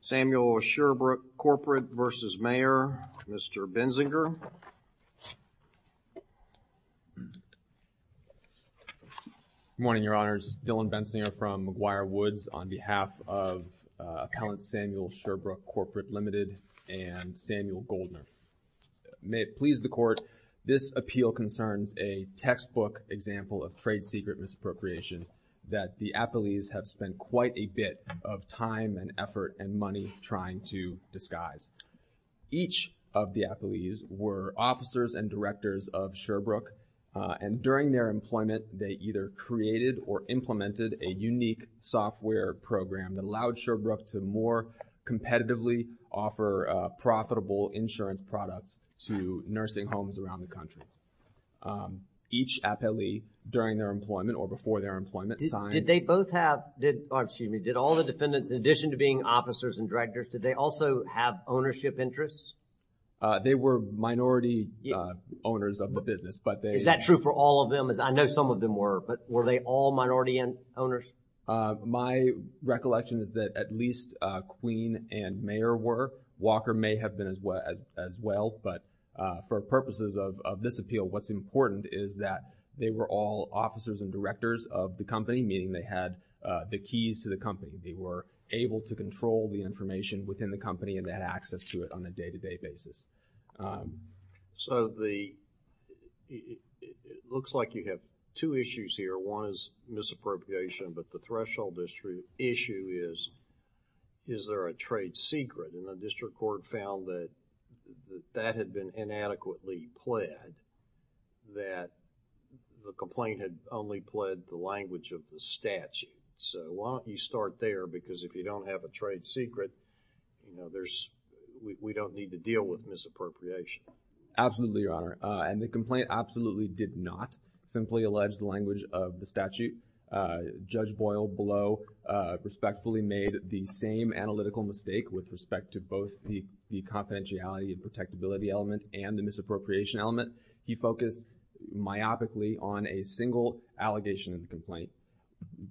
Samuel Sherbrooke Corporate v. Mayer Mr. Benzinger Good morning, Your Honors. This is Dillon Benzinger from McGuire Woods on behalf of Appellant Samuel Sherbrooke Corporate, Ltd. and Samuel Goldner. May it please the Court, this appeal concerns a textbook example of trade secret misappropriation that the affilees have spent quite a bit of time and effort and money trying to disguise. Each of the appellees were officers and directors of Sherbrooke and during their employment they either created or implemented a unique software program that allowed Sherbrooke to more competitively offer profitable insurance products to nursing homes around the country. Each appellee during their employment or before their employment signed. Did they both have, or excuse me, did all the defendants in addition to being officers and directors, did they also have ownership interests? They were minority owners of the business, but they. Is that true for all of them? I know some of them were, but were they all minority owners? My recollection is that at least Queen and Mayer were. Walker may have been as well, but for purposes of this appeal, what's important is that they were all officers and directors of the company, meaning they had the keys to the company. They were able to control the information within the company and they had access to it on a day-to-day basis. So the, it looks like you have two issues here. One is misappropriation, but the threshold issue is, is there a trade secret? And the district court found that that had been inadequately pled that the complaint had only pled the language of the statute. So why don't you start there because if you don't have a trade secret, you know, there's, we don't need to deal with misappropriation. Absolutely, Your Honor. And the complaint absolutely did not simply allege the language of the statute. Judge Boyle below respectfully made the same analytical mistake with respect to both the confidentiality and protectability element and the misappropriation element. He focused myopically on a single allegation in the complaint,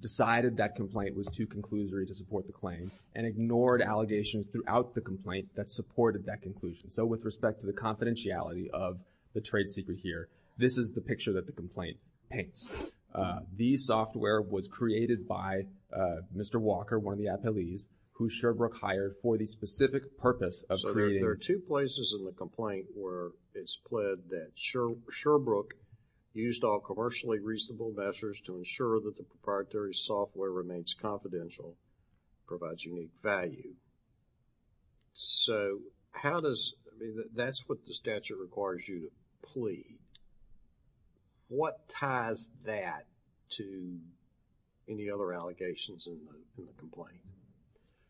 decided that complaint was too conclusory to support the claim, and ignored allegations throughout the complaint that supported that conclusion. So with respect to the confidentiality of the trade secret here, this is the picture that the complaint paints. The software was created by Mr. Walker, one of the appellees, who Sherbrooke hired for the specific purpose of creating. There are two places in the complaint where it's pled that Sherbrooke used all commercially reasonable measures to ensure that the proprietary software remains confidential, provides unique value. So how does, that's what the statute requires you to plead. What ties that to any other allegations in the complaint?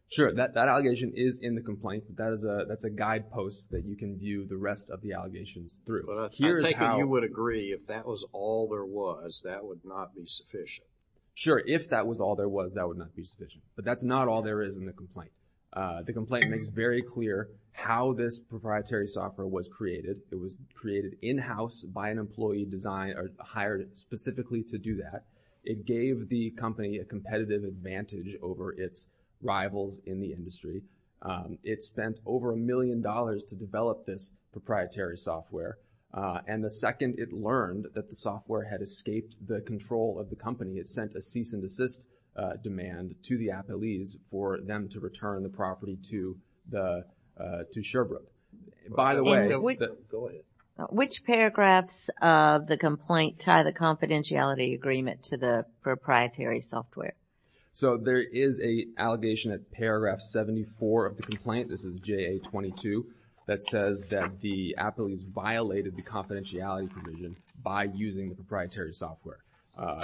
Sure, that allegation is in the complaint. That's a guidepost that you can view the rest of the allegations through. But I'm thinking you would agree if that was all there was, that would not be sufficient. Sure, if that was all there was, that would not be sufficient. But that's not all there is in the complaint. The complaint makes very clear how this proprietary software was created. It was created in-house by an employee designed or hired specifically to do that. It gave the company a competitive advantage over its rivals in the industry. It spent over a million dollars to develop this proprietary software. And the second it learned that the software had escaped the control of the company, it sent a cease and desist demand to the appellees for them to return the property to the, to Sherbrooke. Which paragraphs of the complaint tie the confidentiality agreement to the proprietary software? So there is an allegation at paragraph 74 of the complaint, this is JA-22, that says that the appellees violated the confidentiality provision by using the proprietary software.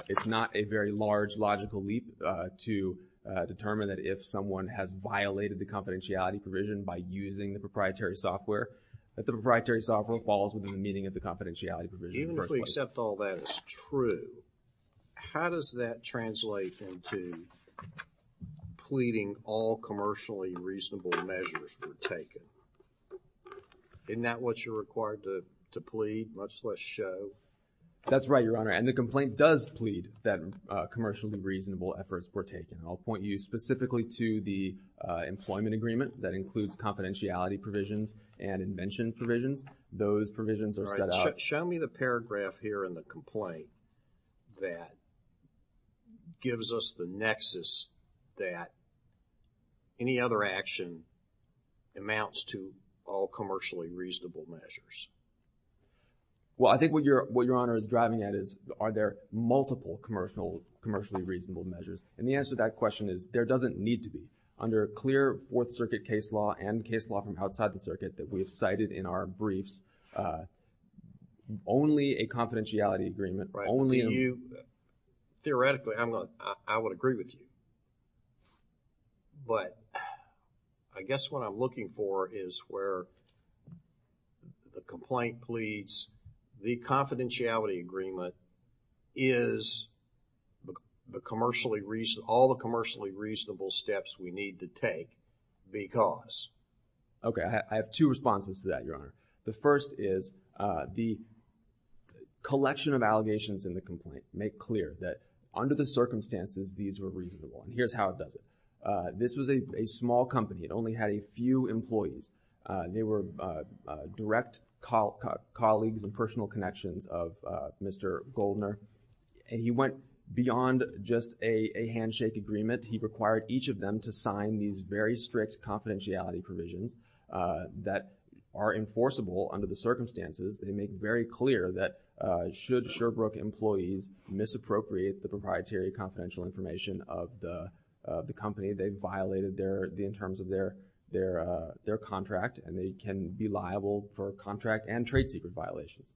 It's not a very large logical leap to determine that if someone has violated the confidentiality provision by using the proprietary software, that the proprietary software falls within the meaning of the confidentiality provision. Even if we accept all that is true, how does that translate into pleading all commercially reasonable measures were taken? Isn't that what you're required to plead, much less show? That's right, Your Honor. And the complaint does plead that commercially reasonable efforts were taken. I'll point you specifically to the employment agreement that includes confidentiality provisions and invention provisions. Those provisions are set up. Show me the paragraph here in the complaint that gives us the nexus that any other action amounts to all commercially reasonable measures. Well, I think what Your Honor is driving at is, are there multiple commercially reasonable measures? And the answer to that question is, there doesn't need to be. Under clear Fourth Circuit case law and case law from outside the circuit that we have cited in our briefs, only a confidentiality agreement, only a... Theoretically, I would agree with you. But I guess what I'm looking for is where the complaint pleads the confidentiality agreement is all the commercially reasonable steps we need to take because... Okay. I have two responses to that, Your Honor. The first is the collection of allegations in the complaint make clear that under the circumstances, these were reasonable. And here's how it does it. This was a small company. It only had a few employees. They were direct colleagues and personal connections of Mr. Goldner. And he went beyond just a handshake agreement. He required each of them to sign these very strict confidentiality provisions that are enforceable under the circumstances. They make very clear that should Sherbrooke employees misappropriate the proprietary confidential information of the company, they violated in terms of their contract, and they can be liable for contract and trade secret violations.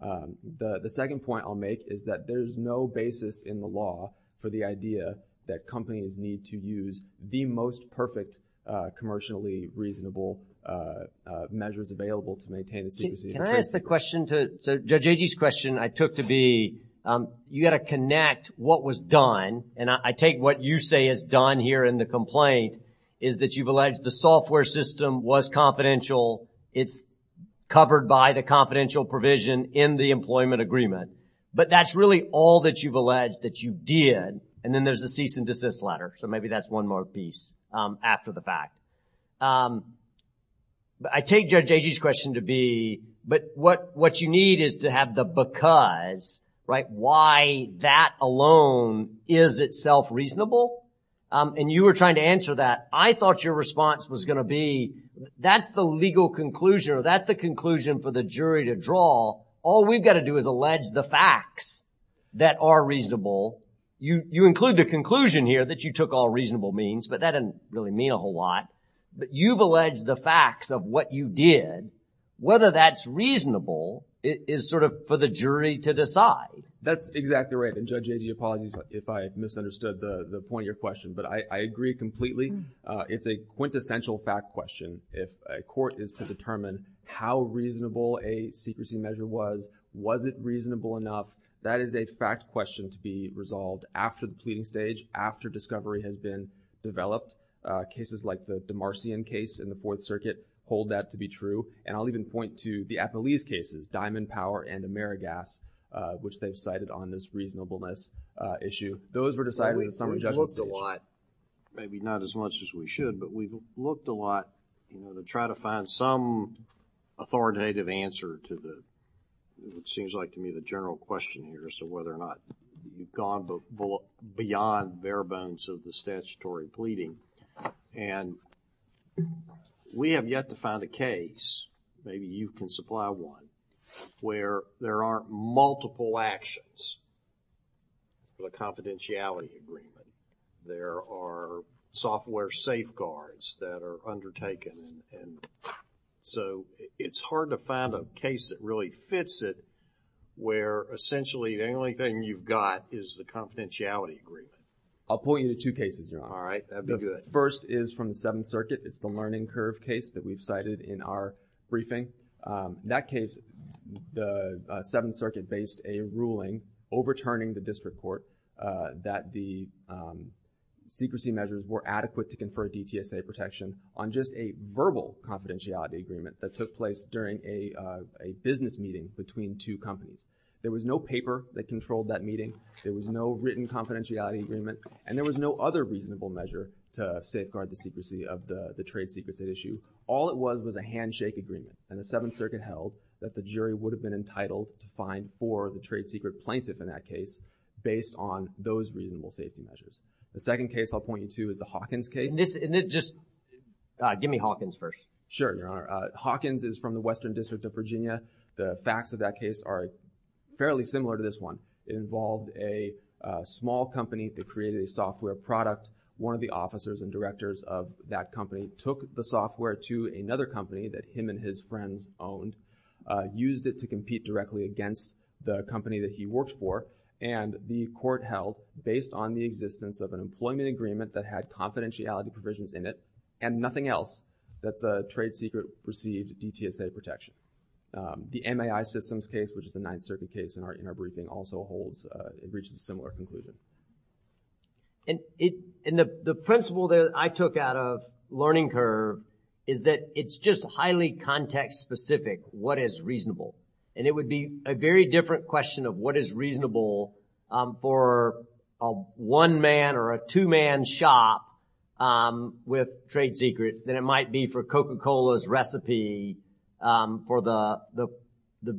The second point I'll make is that there's no basis in the law for the idea that companies need to use the most perfect commercially reasonable measures available to maintain the secrecy of the trade secret. Can I ask the question to... So Judge Agee's question I took to be you got to connect what was done. And I take what you say is done here in the complaint is that you've alleged the software system was confidential. It's covered by the confidential provision in the employment agreement. But that's really all that you've alleged that you did. And then there's a cease and desist letter. So maybe that's one more piece after the fact. I take Judge Agee's question to be but what you need is to have the because, right? Why that alone is itself reasonable? And you were trying to answer that. I thought your response was going to be that's the legal conclusion or that's the conclusion for the jury to draw. All we've got to do is allege the facts that are reasonable. You include the conclusion here that you took all reasonable means. But that doesn't really mean a whole lot. But you've alleged the facts of what you did. Whether that's reasonable is sort of for the jury to decide. That's exactly right. And Judge Agee, apologies if I misunderstood the point of your question. But I agree completely. It's a quintessential fact question. If a court is to determine how reasonable a secrecy measure was, was it reasonable enough? That is a fact question to be resolved after the pleading stage, after discovery has been developed. Cases like the Demarcian case in the Fourth Circuit hold that to be true. And I'll even point to the Athelese cases, Diamond Power and Amerigas, which they've cited on this reasonableness issue. Those were decided in the summary judgment stage. We've looked a lot, maybe not as much as we should, but we've looked a lot, you know, gone beyond bare bones of the statutory pleading. And we have yet to find a case, maybe you can supply one, where there aren't multiple actions for the confidentiality agreement. There are software safeguards that are undertaken. So, it's hard to find a case that really fits it where essentially the only thing you've got is the confidentiality agreement. I'll point you to two cases, Your Honor. All right, that'd be good. The first is from the Seventh Circuit. It's the Learning Curve case that we've cited in our briefing. That case, the Seventh Circuit based a ruling overturning the district court that the secrecy measures were adequate to confer DTSA protection on just a verbal confidentiality agreement that took place during a business meeting between two companies. There was no paper that controlled that meeting. There was no written confidentiality agreement. And there was no other reasonable measure to safeguard the secrecy of the trade secrecy issue. All it was was a handshake agreement. And the Seventh Circuit held that the jury would have been entitled to fine for the trade secret plaintiff in that case based on those reasonable safety measures. The second case I'll point you to is the Hawkins case. Give me Hawkins first. Sure, Your Honor. Hawkins is from the Western District of Virginia. The facts of that case are fairly similar to this one. It involved a small company that created a software product. One of the officers and directors of that company took the software to another company that him and his friends owned, used it to compete directly against the company that he worked for, and the court held, based on the existence of an employment agreement that had confidentiality provisions in it and nothing else, that the trade secret received DTSA protection. The MAI systems case, which is the Ninth Circuit case in our briefing, also holds, reaches a similar conclusion. And the principle that I took out of Learning Curve is that it's just highly context-specific what is reasonable. And it would be a very different question of what is reasonable for a one-man or a two-man shop with trade secrets than it might be for Coca-Cola's recipe for the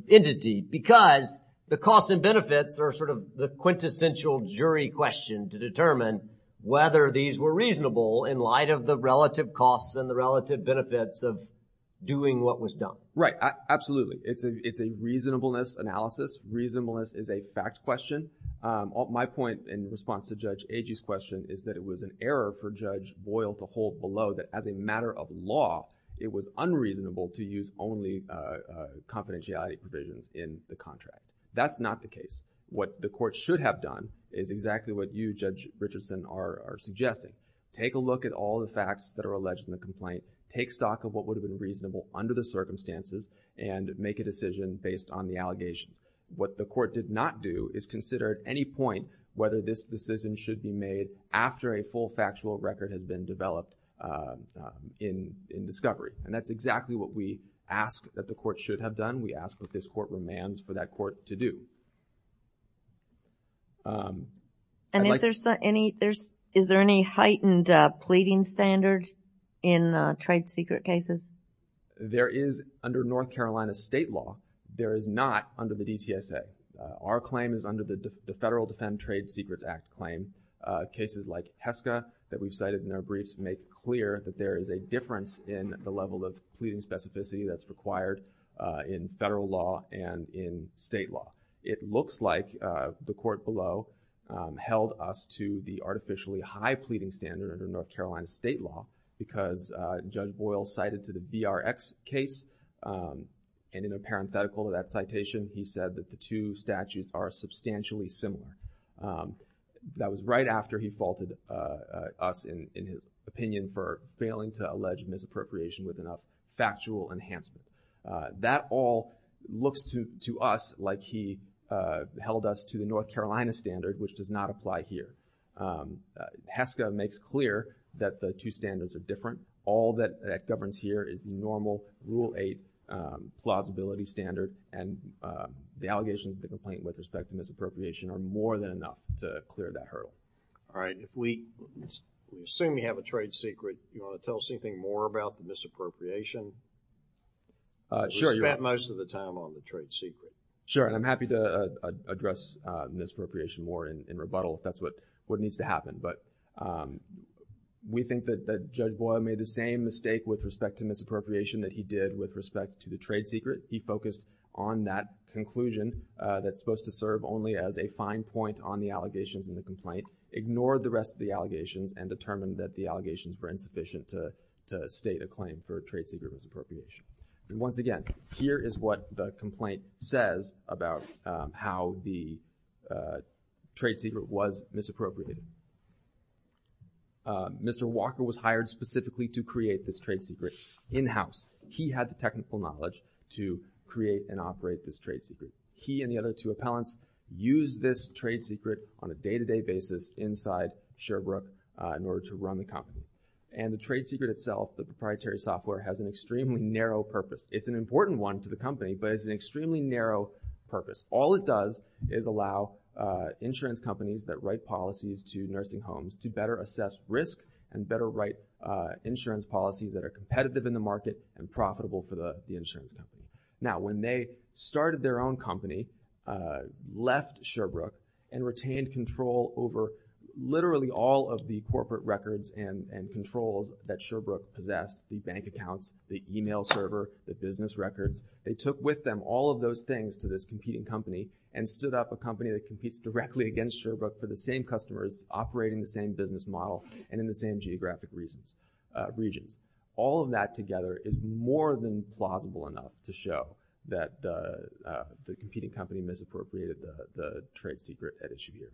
entity, because the costs and benefits are sort of the quintessential jury question to determine whether these were reasonable in light of the relative costs and the relative benefits of doing what was done. Right. Absolutely. It's a reasonableness analysis. Reasonableness is a fact question. My point in response to Judge Agee's question is that it was an error for Judge Boyle to hold below that as a matter of law, it was unreasonable to use only confidentiality provisions in the contract. That's not the case. What the court should have done is exactly what you, Judge Richardson, are suggesting. Take a look at all the facts that are alleged in the complaint. Take stock of what would have been reasonable under the circumstances and make a decision based on the allegations. What the court did not do is consider at any point whether this decision should be made after a full factual record has been developed in discovery. And that's exactly what we ask that the court should have done. We ask what this court demands for that court to do. And is there any heightened pleading standard in trade secret cases? There is under North Carolina state law. There is not under the DTSA. Our claim is under the Federal Defend Trade Secrets Act claim. Cases like HESCA that we've cited in our briefs make clear that there is a difference in the level of pleading specificity that's required in federal law and in state law. It looks like the court below held us to the artificially high pleading standard under North Carolina state law because Judge Boyle cited to the BRX case and in a parenthetical to that citation he said that the two statutes are substantially similar. That was right after he faulted us in his opinion for failing to allege misappropriation with enough factual enhancement. That all looks to us like he held us to the North Carolina standard which does not apply here. HESCA makes clear that the two standards are different. All that governs here is normal Rule 8 plausibility standard and the allegations of the complaint with respect to misappropriation are more than enough to clear that hurdle. All right. If we assume you have a trade secret, do you want to tell us anything more about the misappropriation? Sure. We spent most of the time on the trade secret. Sure, and I'm happy to address misappropriation more in rebuttal if that's what needs to happen, but we think that Judge Boyle made the same mistake with respect to misappropriation that he did with respect to the trade secret. He focused on that conclusion that's supposed to serve only as a fine point on the allegations in the complaint, ignored the rest of the allegations and determined that the allegations were insufficient to state a claim for trade secret misappropriation. And once again, here is what the complaint says about how the trade secret was misappropriated. Mr. Walker was hired specifically to create this trade secret in-house. He had the technical knowledge to create and operate this trade secret. He and the other two appellants used this trade secret on a day-to-day basis inside Sherbrooke in order to run the company. And the trade secret itself, the proprietary software, has an extremely narrow purpose. It's an important one to the company, but it has an extremely narrow purpose. All it does is allow insurance companies that write policies to nursing homes to better assess risk and better write insurance policies that are competitive in the market and profitable for the insurance company. Now, when they started their own company, left Sherbrooke and retained control over literally all of the corporate records and controls that Sherbrooke possessed, the bank accounts, the email server, the business records, they took with them all of those things to this competing company and stood up a company that competes directly against Sherbrooke for the same customers operating the same business model and in the same geographic regions. All of that together is more than plausible enough to show that the competing company misappropriated the trade secret at issue here.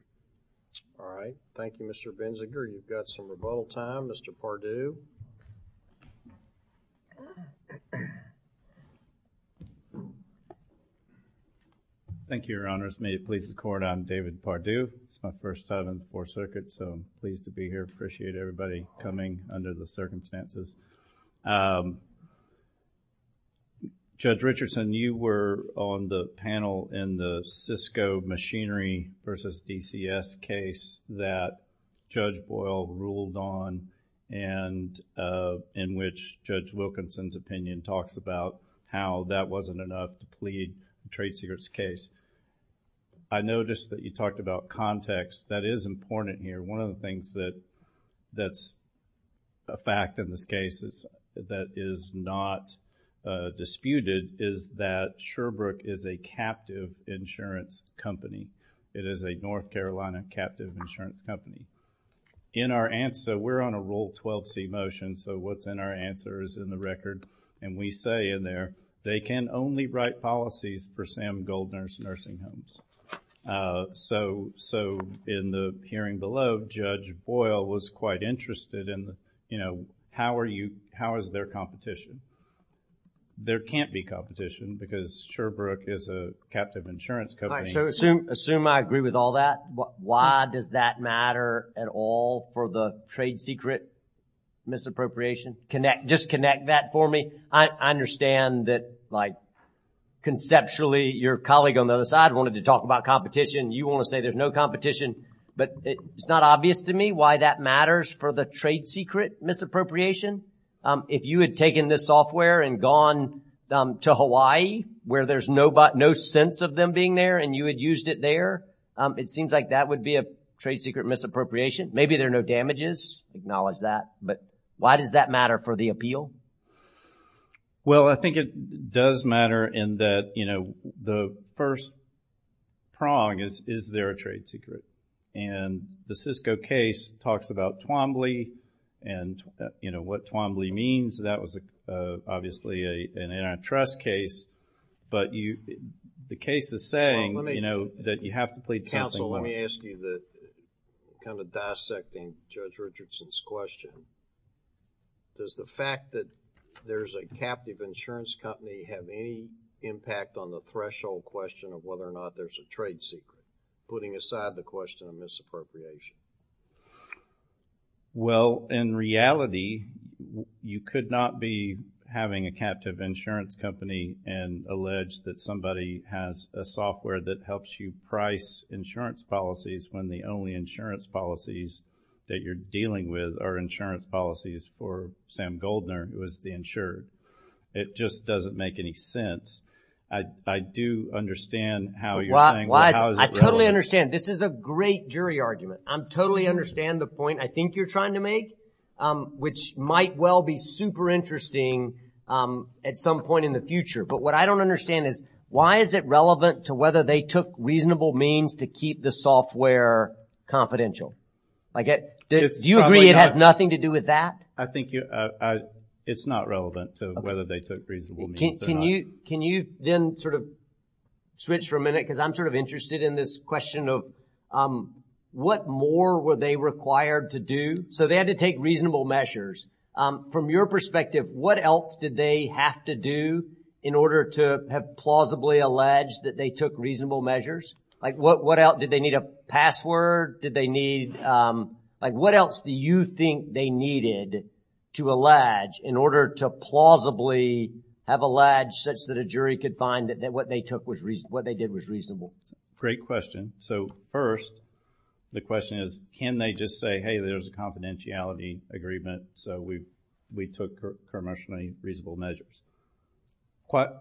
All right. Thank you, Mr. Binziger. You've got some rebuttal time. Mr. Pardue. Thank you, Your Honors. May it please the Court, I'm David Pardue. It's my first time on the Fourth Circuit, so I'm pleased to be here. I appreciate everybody coming under the circumstances. Judge Richardson, you were on the panel in the Cisco Machinery v. DCS case that Judge Boyle ruled on and in which Judge Wilkinson's opinion talks about how that wasn't enough to plead the trade secrets case. I noticed that you talked about context. That is important here. One of the things that's a fact in this case that is not disputed is that Sherbrooke is a captive insurance company. It is a North Carolina captive insurance company. In our answer, we're on a Rule 12c motion, so what's in our answer is in the record, and we say in there, they can only write policies for Sam Goldner's nursing homes. So, in the hearing below, Judge Boyle was quite interested in, you know, how is there competition? There can't be competition because Sherbrooke is a captive insurance company. Assume I agree with all that. Why does that matter at all for the trade secret misappropriation? Just connect that for me. I understand that, like, conceptually, your colleague on the other side wanted to talk about competition. You want to say there's no competition, but it's not obvious to me why that matters for the trade secret misappropriation. If you had taken this software and gone to Hawaii, where there's no sense of them being there, and you had used it there, it seems like that would be a trade secret misappropriation. Maybe there are no damages. Acknowledge that. But why does that matter for the appeal? Well, I think it does matter in that, you know, the first prong is, is there a trade secret? And the Cisco case talks about Twombly and, you know, what Twombly means. That was obviously an antitrust case. But the case is saying, you know, that you have to plead something. Counsel, let me ask you the kind of dissecting Judge Richardson's question. Does the fact that there's a captive insurance company have any impact on the threshold question of whether or not there's a trade secret, putting aside the question of misappropriation? Well, in reality, you could not be having a captive insurance company and allege that somebody has a software that helps you price insurance policies when the only insurance policies that you're dealing with are insurance policies for Sam Goldner, who is the insured. It just doesn't make any sense. I do understand how you're saying, well, how is it relevant? I totally understand. This is a great jury argument. I totally understand the point I think you're trying to make, which might well be super interesting at some point in the future. But what I don't understand is, why is it relevant to whether they took reasonable means to keep the software confidential? Do you agree it has nothing to do with that? I think it's not relevant to whether they took reasonable means or not. Can you then sort of switch for a minute, because I'm sort of interested in this question of, what more were they required to do? So they had to take reasonable measures. From your perspective, what else did they have to do in order to have plausibly alleged that they took reasonable measures? Did they need a password? What else do you think they needed to allege in order to plausibly have alleged such that a jury could find that what they did was reasonable? Great question. So first, the question is, can they just say, hey, there's a confidentiality agreement, so we took commercially reasonable measures?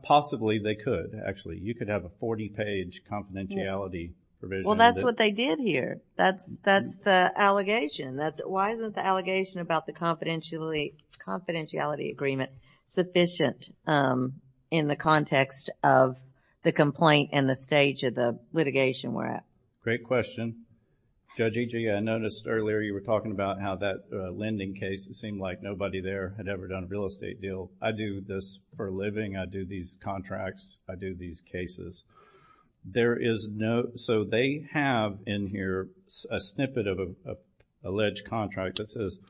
Possibly they could, actually. You could have a 40-page confidentiality provision. Well, that's what they did here. That's the allegation. Why isn't the allegation about the confidentiality agreement sufficient in the context of the complaint and the stage of the litigation we're at? Great question. Judge Ege, I noticed earlier you were talking about how that lending case, it seemed like nobody there had ever done a real estate deal. I do this for a living. I do these contracts. I do these cases. So they have in here a snippet of an alleged contract that says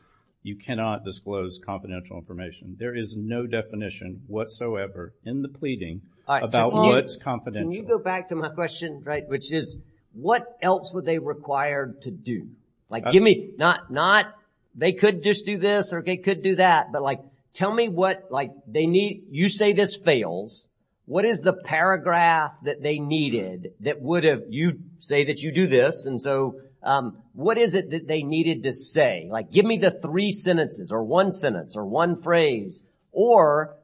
you cannot disclose confidential information. There is no definition whatsoever in the pleading about what's confidential. Can you go back to my question, which is, what else were they required to do? Not they could just do this or they could do that, but tell me what they need. You say this fails. What is the paragraph that they needed that would have, you say that you do this, and so what is it that they needed to say? Give me the three sentences or one sentence or one phrase, or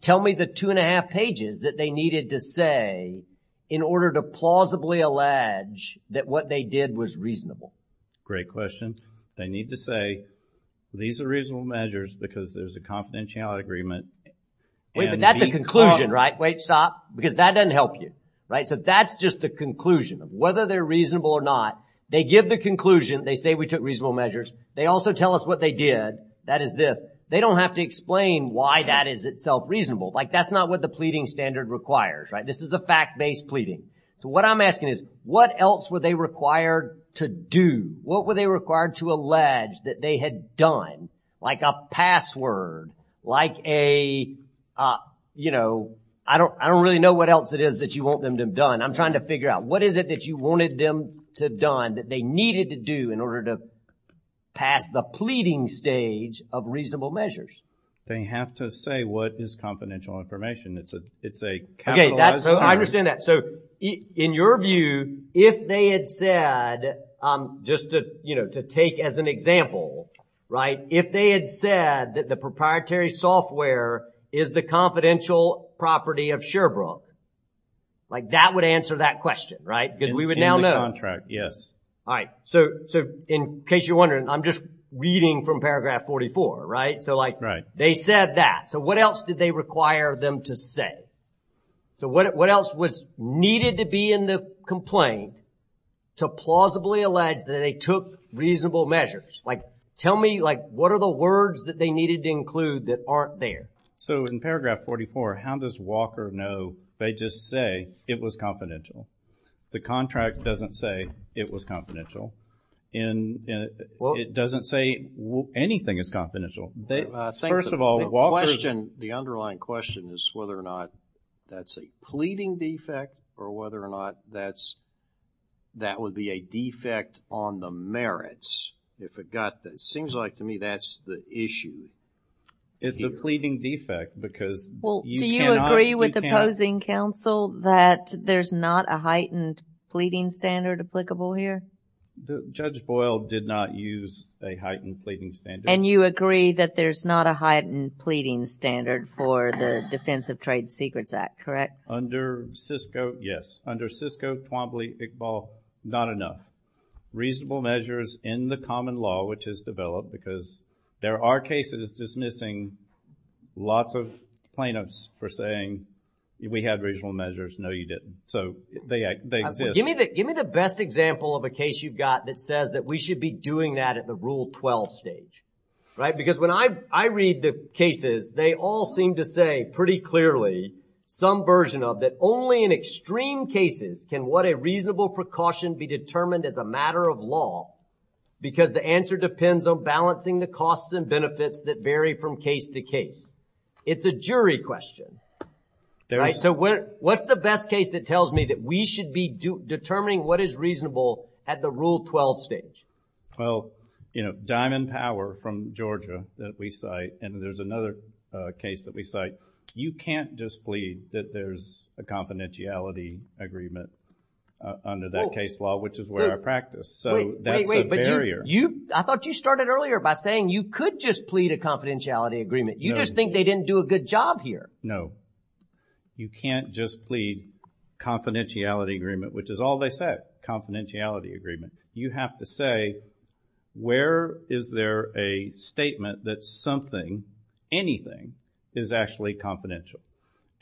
tell me the two and a half pages that they needed to say in order to plausibly allege that what they did was reasonable. Great question. They need to say, these are reasonable measures because there's a confidentiality agreement. Wait, but that's a conclusion, right? Wait, stop. Because that doesn't help you. So that's just the conclusion of whether they're reasonable or not. They give the conclusion. They say we took reasonable measures. They also tell us what they did. That is this. They don't have to explain why that is itself reasonable. That's not what the pleading standard requires. This is the fact-based pleading. So what I'm asking is, what else were they required to do? Like a password, like a, you know, I don't really know what else it is that you want them to have done. I'm trying to figure out, what is it that you wanted them to have done that they needed to do in order to pass the pleading stage of reasonable measures? They have to say what is confidential information. It's a capitalized term. I understand that. So in your view, if they had said, just to take as an example, right, if they had said that the proprietary software is the confidential property of Sherbrooke, like that would answer that question, right? Because we would now know. In the contract, yes. All right, so in case you're wondering, I'm just reading from paragraph 44, right? So like they said that. So what else did they require them to say? So what else was needed to be in the complaint to plausibly allege that they took reasonable measures? Like tell me, like, what are the words that they needed to include that aren't there? So in paragraph 44, how does Walker know, they just say it was confidential? The contract doesn't say it was confidential. It doesn't say anything is confidential. First of all, Walker. The underlying question is whether or not that's a pleading defect or whether or not that would be a defect on the merits. It seems like to me that's the issue. It's a pleading defect because you cannot. Well, do you agree with opposing counsel that there's not a heightened pleading standard applicable here? Judge Boyle did not use a heightened pleading standard. And you agree that there's not a heightened pleading standard for the Defense of Trade Secrets Act, correct? Under CISCO, yes. Under CISCO, Twombly, Iqbal, not enough. Reasonable measures in the common law which is developed because there are cases dismissing lots of plaintiffs for saying we had reasonable measures. No, you didn't. So they exist. Give me the best example of a case you've got that says that we should be doing that at the Rule 12 stage, right? Because when I read the cases, they all seem to say pretty clearly some version of that only in extreme cases can what a reasonable precaution be determined as a matter of law because the answer depends on balancing the costs and benefits that vary from case to case. It's a jury question. So what's the best case that tells me that we should be determining what is reasonable at the Rule 12 stage? Well, Diamond Power from Georgia that we cite and there's another case that we cite, you can't just plead that there's a confidentiality agreement under that case law which is where I practice. So that's a barrier. I thought you started earlier by saying you could just plead a confidentiality agreement. You just think they didn't do a good job here. No, you can't just plead confidentiality agreement which is all they said, confidentiality agreement. You have to say where is there a statement that something, anything, is actually confidential?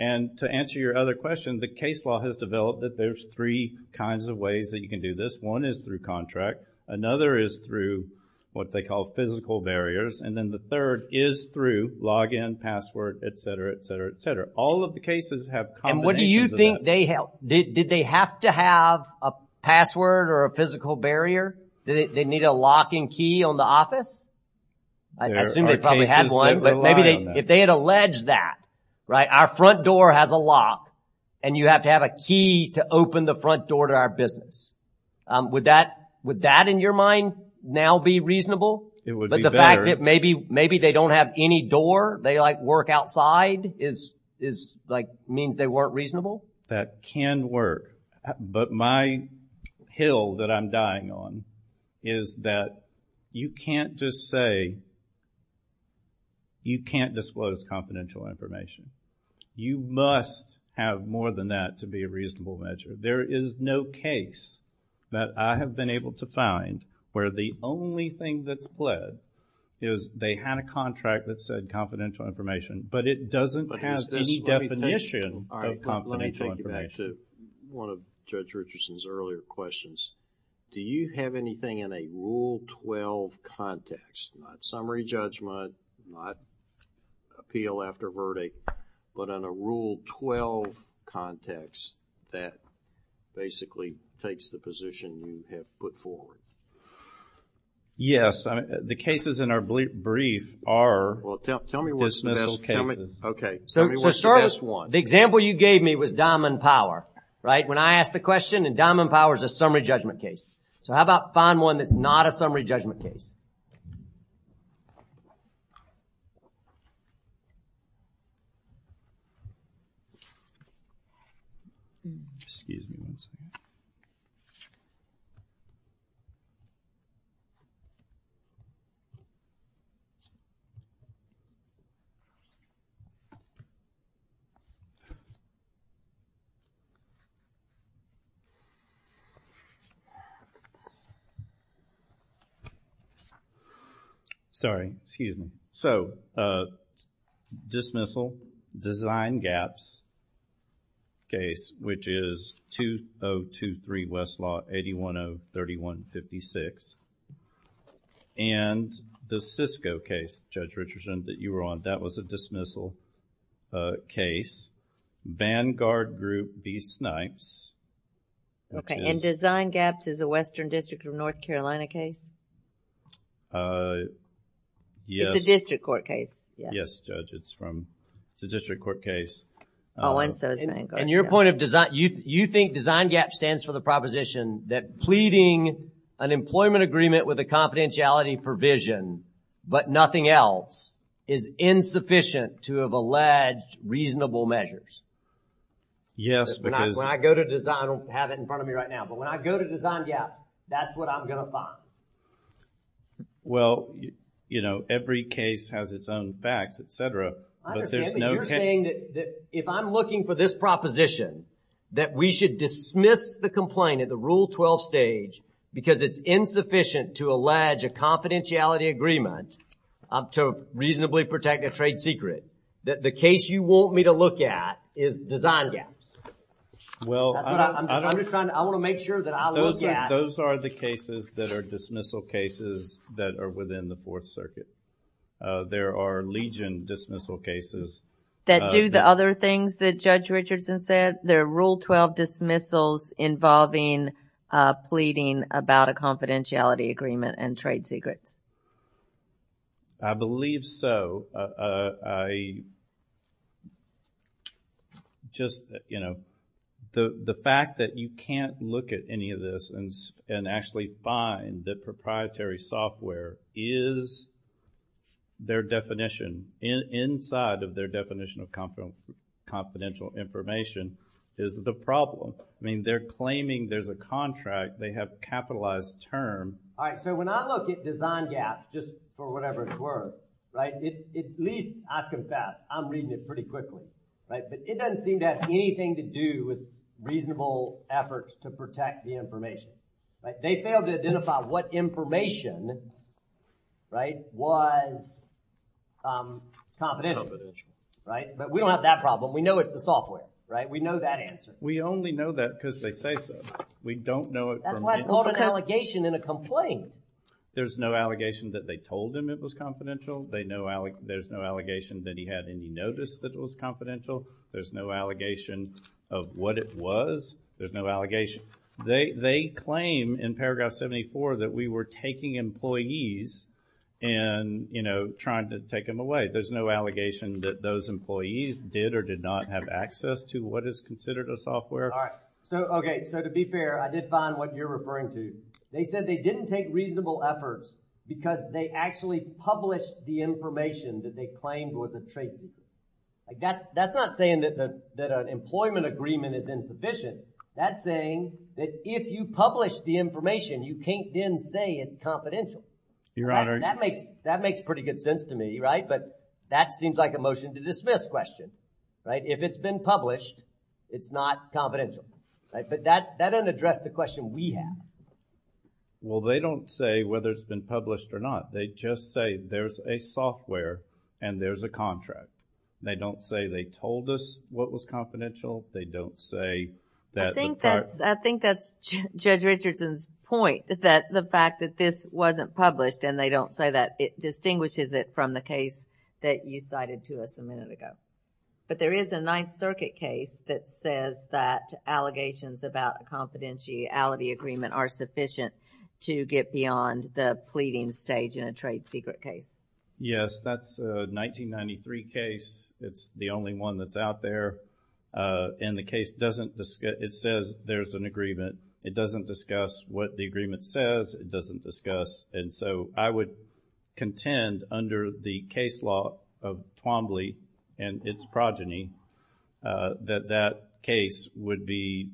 And to answer your other question, the case law has developed that there's three kinds of ways that you can do this. One is through contract. Another is through what they call physical barriers. And then the third is through login, password, etc., etc., etc. All of the cases have combinations of that. And what do you think they have? Did they have to have a password or a physical barrier? Did they need a locking key on the office? I assume they probably had one. But maybe if they had alleged that, right, our front door has a lock and you have to have a key to open the front door to our business, would that in your mind now be reasonable? It would be better. But the fact that maybe they don't have any door, they work outside means they weren't reasonable? That can work. But my hill that I'm dying on is that you can't just say you can't disclose confidential information. You must have more than that to be a reasonable measure. There is no case that I have been able to find where the only thing that's fled is they had a contract that said confidential information, but it doesn't have any definition of confidential information. Let me take you back to one of Judge Richardson's earlier questions. Do you have anything in a Rule 12 context, not summary judgment, not appeal after verdict, but in a Rule 12 context that basically takes the position you have put forward? Yes. The cases in our brief are dismissal cases. Well, tell me what's the best one. The example you gave me was Diamond Power, right? When I ask the question, Diamond Power is a summary judgment case. So how about find one that's not a summary judgment case? Sorry. Excuse me. So dismissal, Design Gaps case, which is 2023 Westlaw 810-3156, and the Cisco case, Judge Richardson, that you were on, that was a dismissal case. Vanguard Group v. Snipes. And Design Gaps is a Western District of North Carolina case? Yes. It's a district court case. Yes, Judge. It's a district court case. Oh, and so is Vanguard. And your point of design, you think Design Gaps stands for the proposition that pleading an employment agreement with a confidentiality provision, but nothing else, is insufficient to have alleged reasonable measures? Yes, because... When I go to Design, I don't have it in front of me right now, but when I go to Design Gaps, that's what I'm going to find. Well, you know, every case has its own facts, et cetera, but there's no... I understand what you're saying, that if I'm looking for this proposition, that we should dismiss the complaint at the Rule 12 stage because it's insufficient to allege a confidentiality agreement to reasonably protect a trade secret. The case you want me to look at is Design Gaps. Well... I'm just trying to... I want to make sure that I look at... Those are the cases that are dismissal cases that are within the Fourth Circuit. There are legion dismissal cases... That do the other things that Judge Richardson said? There are Rule 12 dismissals involving pleading about a confidentiality agreement and trade secrets. I believe so. Just, you know... The fact that you can't look at any of this and actually find that proprietary software is their definition, inside of their definition of confidential information, is the problem. I mean, they're claiming there's a contract. They have a capitalized term. All right, so when I look at Design Gaps, just for whatever it's worth, right? At least, I confess, I'm reading it pretty quickly, right? But it doesn't seem to have anything to do with reasonable efforts to protect the information. They failed to identify what information, right, was confidential, right? But we don't have that problem. We know it's the software, right? We know that answer. We only know that because they say so. We don't know it... That's why it's called an allegation in a complaint. There's no allegation that they told him it was confidential. There's no allegation that he had any notice that it was confidential. There's no allegation of what it was. There's no allegation... They claim in paragraph 74 that we were taking employees and, you know, trying to take them away. There's no allegation that those employees did or did not have access to what is considered a software. All right. So, okay, so to be fair, I did find what you're referring to. They said they didn't take reasonable efforts because they actually published the information that they claimed was a trade secret. That's not saying that an employment agreement is insufficient. That's saying that if you publish the information, you can't then say it's confidential. Your Honor... That makes pretty good sense to me, right? But that seems like a motion to dismiss question. Right? If it's been published, it's not confidential. But that doesn't address the question we have. Well, they don't say whether it's been published or not. They just say there's a software and there's a contract. They don't say they told us what was confidential. They don't say that... I think that's Judge Richardson's point that the fact that this wasn't published and they don't say that, it distinguishes it from the case that you cited to us a minute ago. But there is a Ninth Circuit case that says that allegations about a confidentiality agreement are sufficient to get beyond the pleading stage in a trade secret case. Yes, that's a 1993 case. It's the only one that's out there. And the case doesn't discuss... It says there's an agreement. It doesn't discuss what the agreement says. It doesn't discuss... And so I would contend under the case law of Twombly and its progeny that that case would be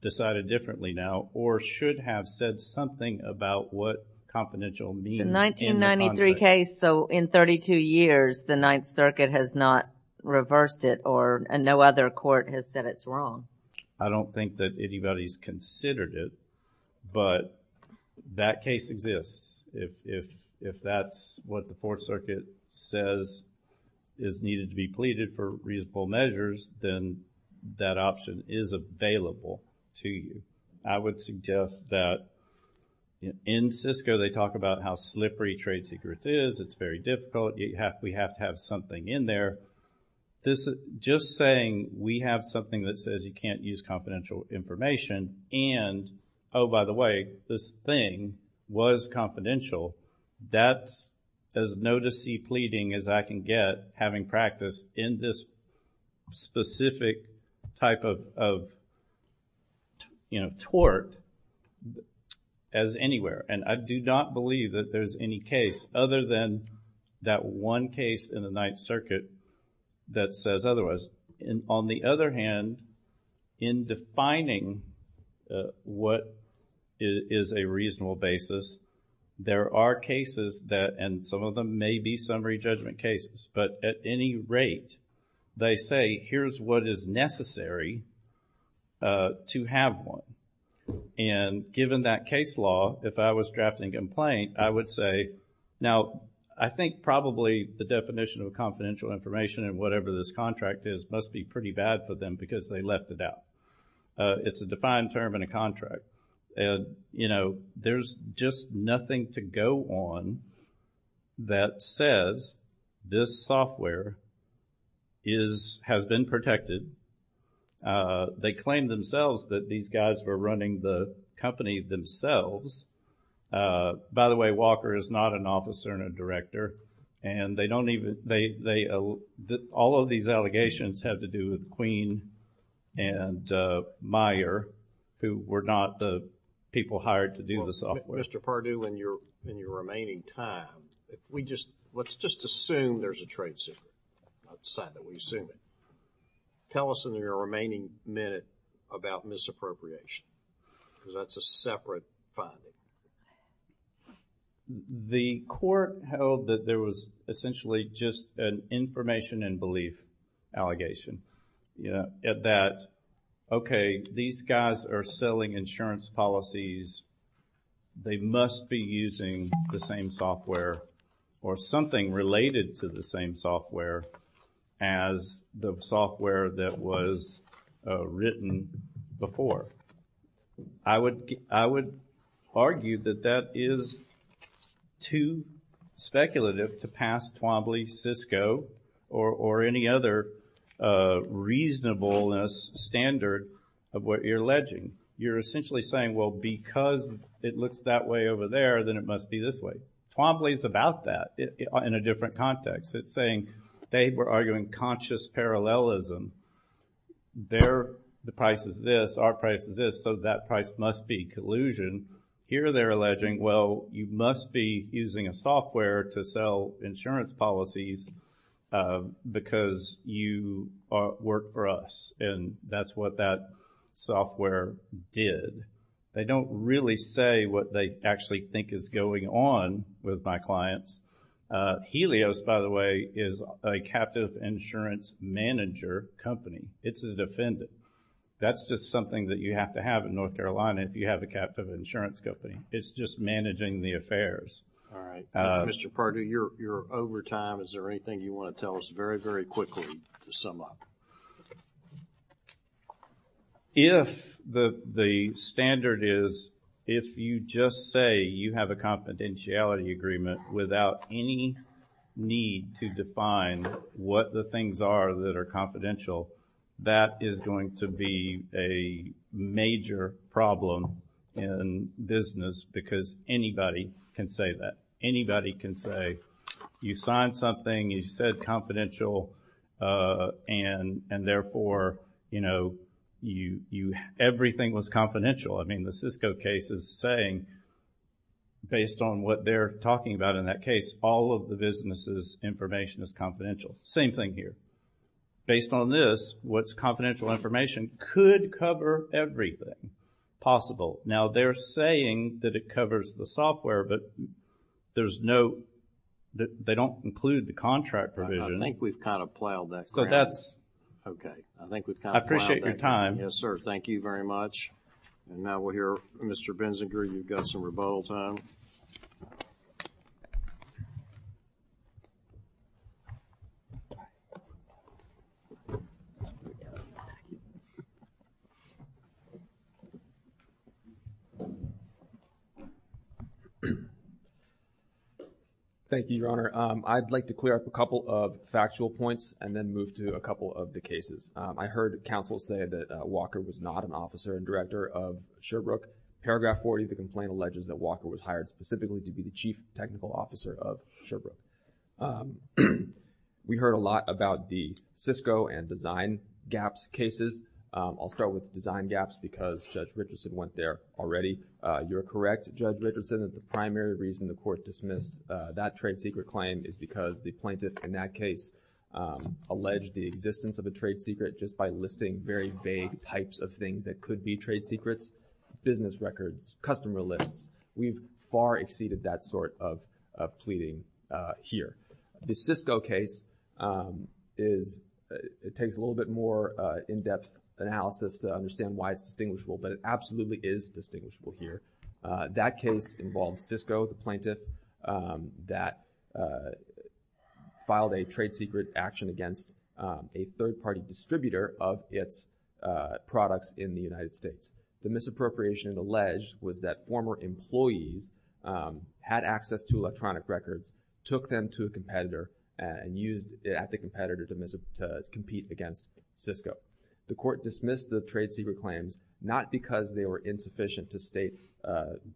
decided differently now or should have said something about what confidential means. It's a 1993 case, so in 32 years, the Ninth Circuit has not reversed it or no other court has said it's wrong. I don't think that anybody's considered it, but that case exists. If that's what the Fourth Circuit says is needed to be pleaded for reasonable measures, then that option is available to you. I would suggest that in Cisco, they talk about how slippery trade secrets is. It's very difficult. We have to have something in there. Just saying we have something that says you can't use confidential information and, oh, by the way, this thing was confidential, that's as notice-y pleading as I can get having practiced in this specific type of, you know, tort as anywhere. And I do not believe that there's any case other than that one case in the Ninth Circuit that says otherwise. And on the other hand, in defining what is a reasonable basis, there are cases that, and some of them may be summary judgment cases, but at any rate, they say, here's what is necessary to have one. And given that case law, if I was drafting a complaint, I would say, now, I think probably the definition of confidential information in whatever this contract is must be pretty bad for them because they left it out. It's a defined term in a contract. And, you know, there's just nothing to go on that says this software has been protected. They claim themselves that these guys were running the company themselves. By the way, Walker is not an officer and a director. And they don't even, all of these allegations have to do with Queen and Meyer who were not the people hired to do the software. Mr. Pardue, in your remaining time, let's just assume there's a trade secret. That's the sign that we assume it. Tell us in your remaining minute about misappropriation because that's a separate finding. The court held that there was essentially just an information and belief allegation. You know, at that, okay, these guys are selling insurance policies. They must be using the same software or something related to the same software as the software that was written before. I would argue that that is too speculative to pass Twombly, Cisco, or any other reasonableness standard of what you're alleging. You're essentially saying, well, because it looks that way over there, then it must be this way. Twombly's about that in a different context. It's saying they were arguing conscious parallelism. Their price is this, our price is this, so that price must be collusion. Here they're alleging, well, you must be using a software to sell insurance policies because you work for us, and that's what that software did. They don't really say what they actually think is going on with my clients. Helios, by the way, is a captive insurance manager company. It's a defendant. That's just something that you have to have in North Carolina if you have a captive insurance company. It's just managing the affairs. All right. Mr. Pardue, you're over time. Is there anything you want to tell us very, very quickly to sum up? If the standard is, if you just say you have a confidentiality agreement without any need to define what the things are that are confidential, that is going to be a major problem in business because anybody can say that. Anybody can say you signed something, you said confidential, and therefore, you know, everything was confidential. I mean, the Cisco case is saying, based on what they're talking about in that case, all of the business' information is confidential. Same thing here. Based on this, what's confidential information could cover everything possible. Now, they're saying that it covers the software, but there's no, they don't include the contract provision. I think we've kind of plowed that ground. So that's... Okay. I think we've kind of plowed that ground. I appreciate your time. Yes, sir. Thank you very much. And now we'll hear Mr. Benzinger. You've got some rebuttal time. Thank you, Your Honor. I'd like to clear up a couple of factual points and then move to a couple of the cases. I heard counsel say that Walker was not an officer and director of Sherbrooke. Paragraph 40 of the complaint alleges that Walker was hired specifically to be the chief technical officer of Sherbrooke. We heard a lot about the Cisco and Design Gaps cases. I'll start with Design Gaps because Judge Richardson went there already. You're correct, Judge Richardson, that the primary reason the court dismissed that trade secret claim is because the plaintiff in that case alleged the existence of a trade secret just by listing very vague types of things that could be trade secrets, business records, customer lists. We've far exceeded that sort of pleading here. The Cisco case is, it takes a little bit more in-depth analysis to understand why it's distinguishable, but it absolutely is distinguishable here. That case involved Cisco, the plaintiff, that filed a trade secret action against a third-party distributor of its products in the United States. The misappropriation alleged was that former employees had access to electronic records, took them to a competitor, and used it at the competitor to compete against Cisco. The court dismissed the trade secret claims not because they were insufficient to state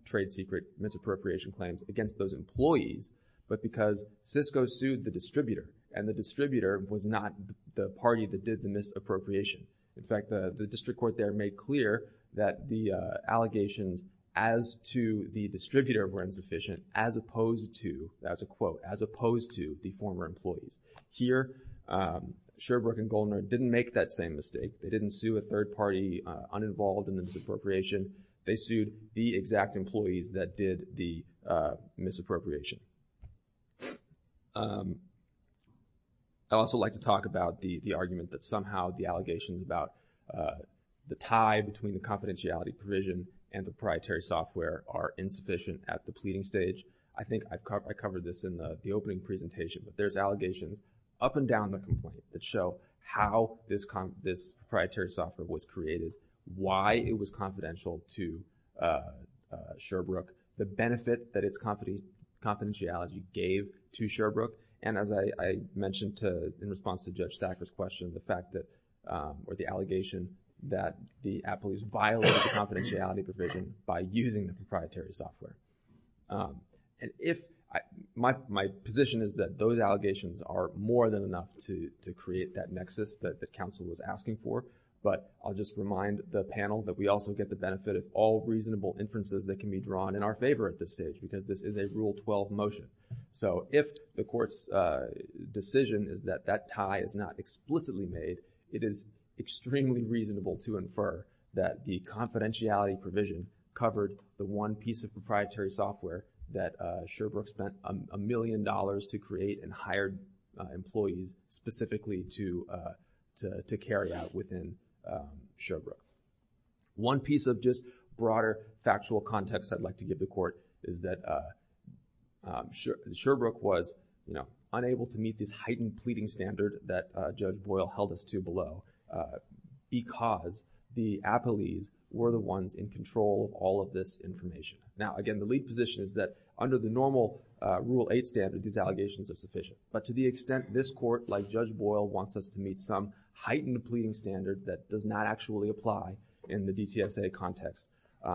trade secret misappropriation claims against those employees, but because Cisco sued the distributor, and the distributor was not the party that did the misappropriation. In fact, the district court there made clear that the allegations as to the distributor were insufficient, as opposed to, that's a quote, as opposed to the former employees. Here, Sherbrooke and Goldner didn't make that same mistake. They didn't sue a third-party uninvolved in the misappropriation. They sued the exact employees that did the misappropriation. I'd also like to talk about the argument that somehow the allegations about the tie between the confidentiality provision and the proprietary software are insufficient at the pleading stage. I think I covered this in the opening presentation, but there's allegations up and down the complaint that show how this proprietary software was created, why it was confidential to Sherbrooke, the benefit that its confidentiality gave to Sherbrooke, and as I mentioned in response to Judge Stacker's question, the fact that, or the allegation that the employees violated the confidentiality provision by using the proprietary software. My position is that those allegations are more than enough to create that nexus that the counsel was asking for, but I'll just remind the panel that we also get the benefit of all reasonable inferences that can be drawn in our favor at this stage because this is a Rule 12 motion. So if the court's decision is that that tie is not explicitly made, it is extremely reasonable to infer that the confidentiality provision covered the one piece of proprietary software that Sherbrooke spent a million dollars to create and hired employees specifically to carry out within Sherbrooke. One piece of just broader factual context I'd like to give the court is that Sherbrooke was unable to meet this heightened pleading standard that Judge Boyle held us to below because the employees were the ones in control of all of this information. Now again, the lead position is that under the normal Rule 8 standard, these allegations are sufficient, but to the extent this court, like Judge Boyle, wants us to meet some heightened pleading standard that does not actually apply in the DTSA context,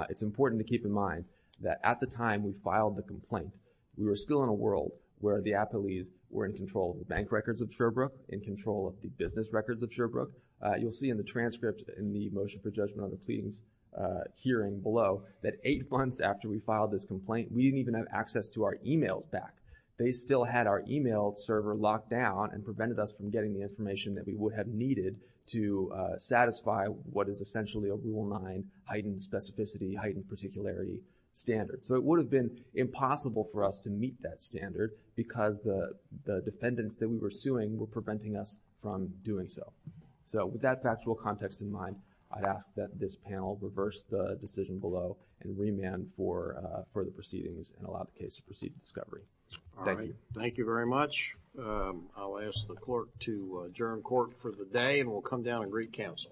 it's important to keep in mind that at the time we filed the complaint, we were still in a world where the employees were in control of the bank records of Sherbrooke, in control of the business records of Sherbrooke. You'll see in the transcript in the motion for judgment on the pleadings hearing below that eight months after we filed this complaint, we didn't even have access to our e-mails back. They still had our e-mail server locked down and prevented us from getting the information that we would have needed to satisfy what is essentially a Rule 9 heightened specificity, heightened particularity standard. So it would have been impossible for us to meet that standard because the defendants that we were suing were preventing us from doing so. So with that factual context in mind, I ask that this panel reverse the decision below and remand for further proceedings and allow the case to proceed to discovery. Thank you. Thank you very much. I'll ask the clerk to adjourn court for the day and we'll come down and greet counsel.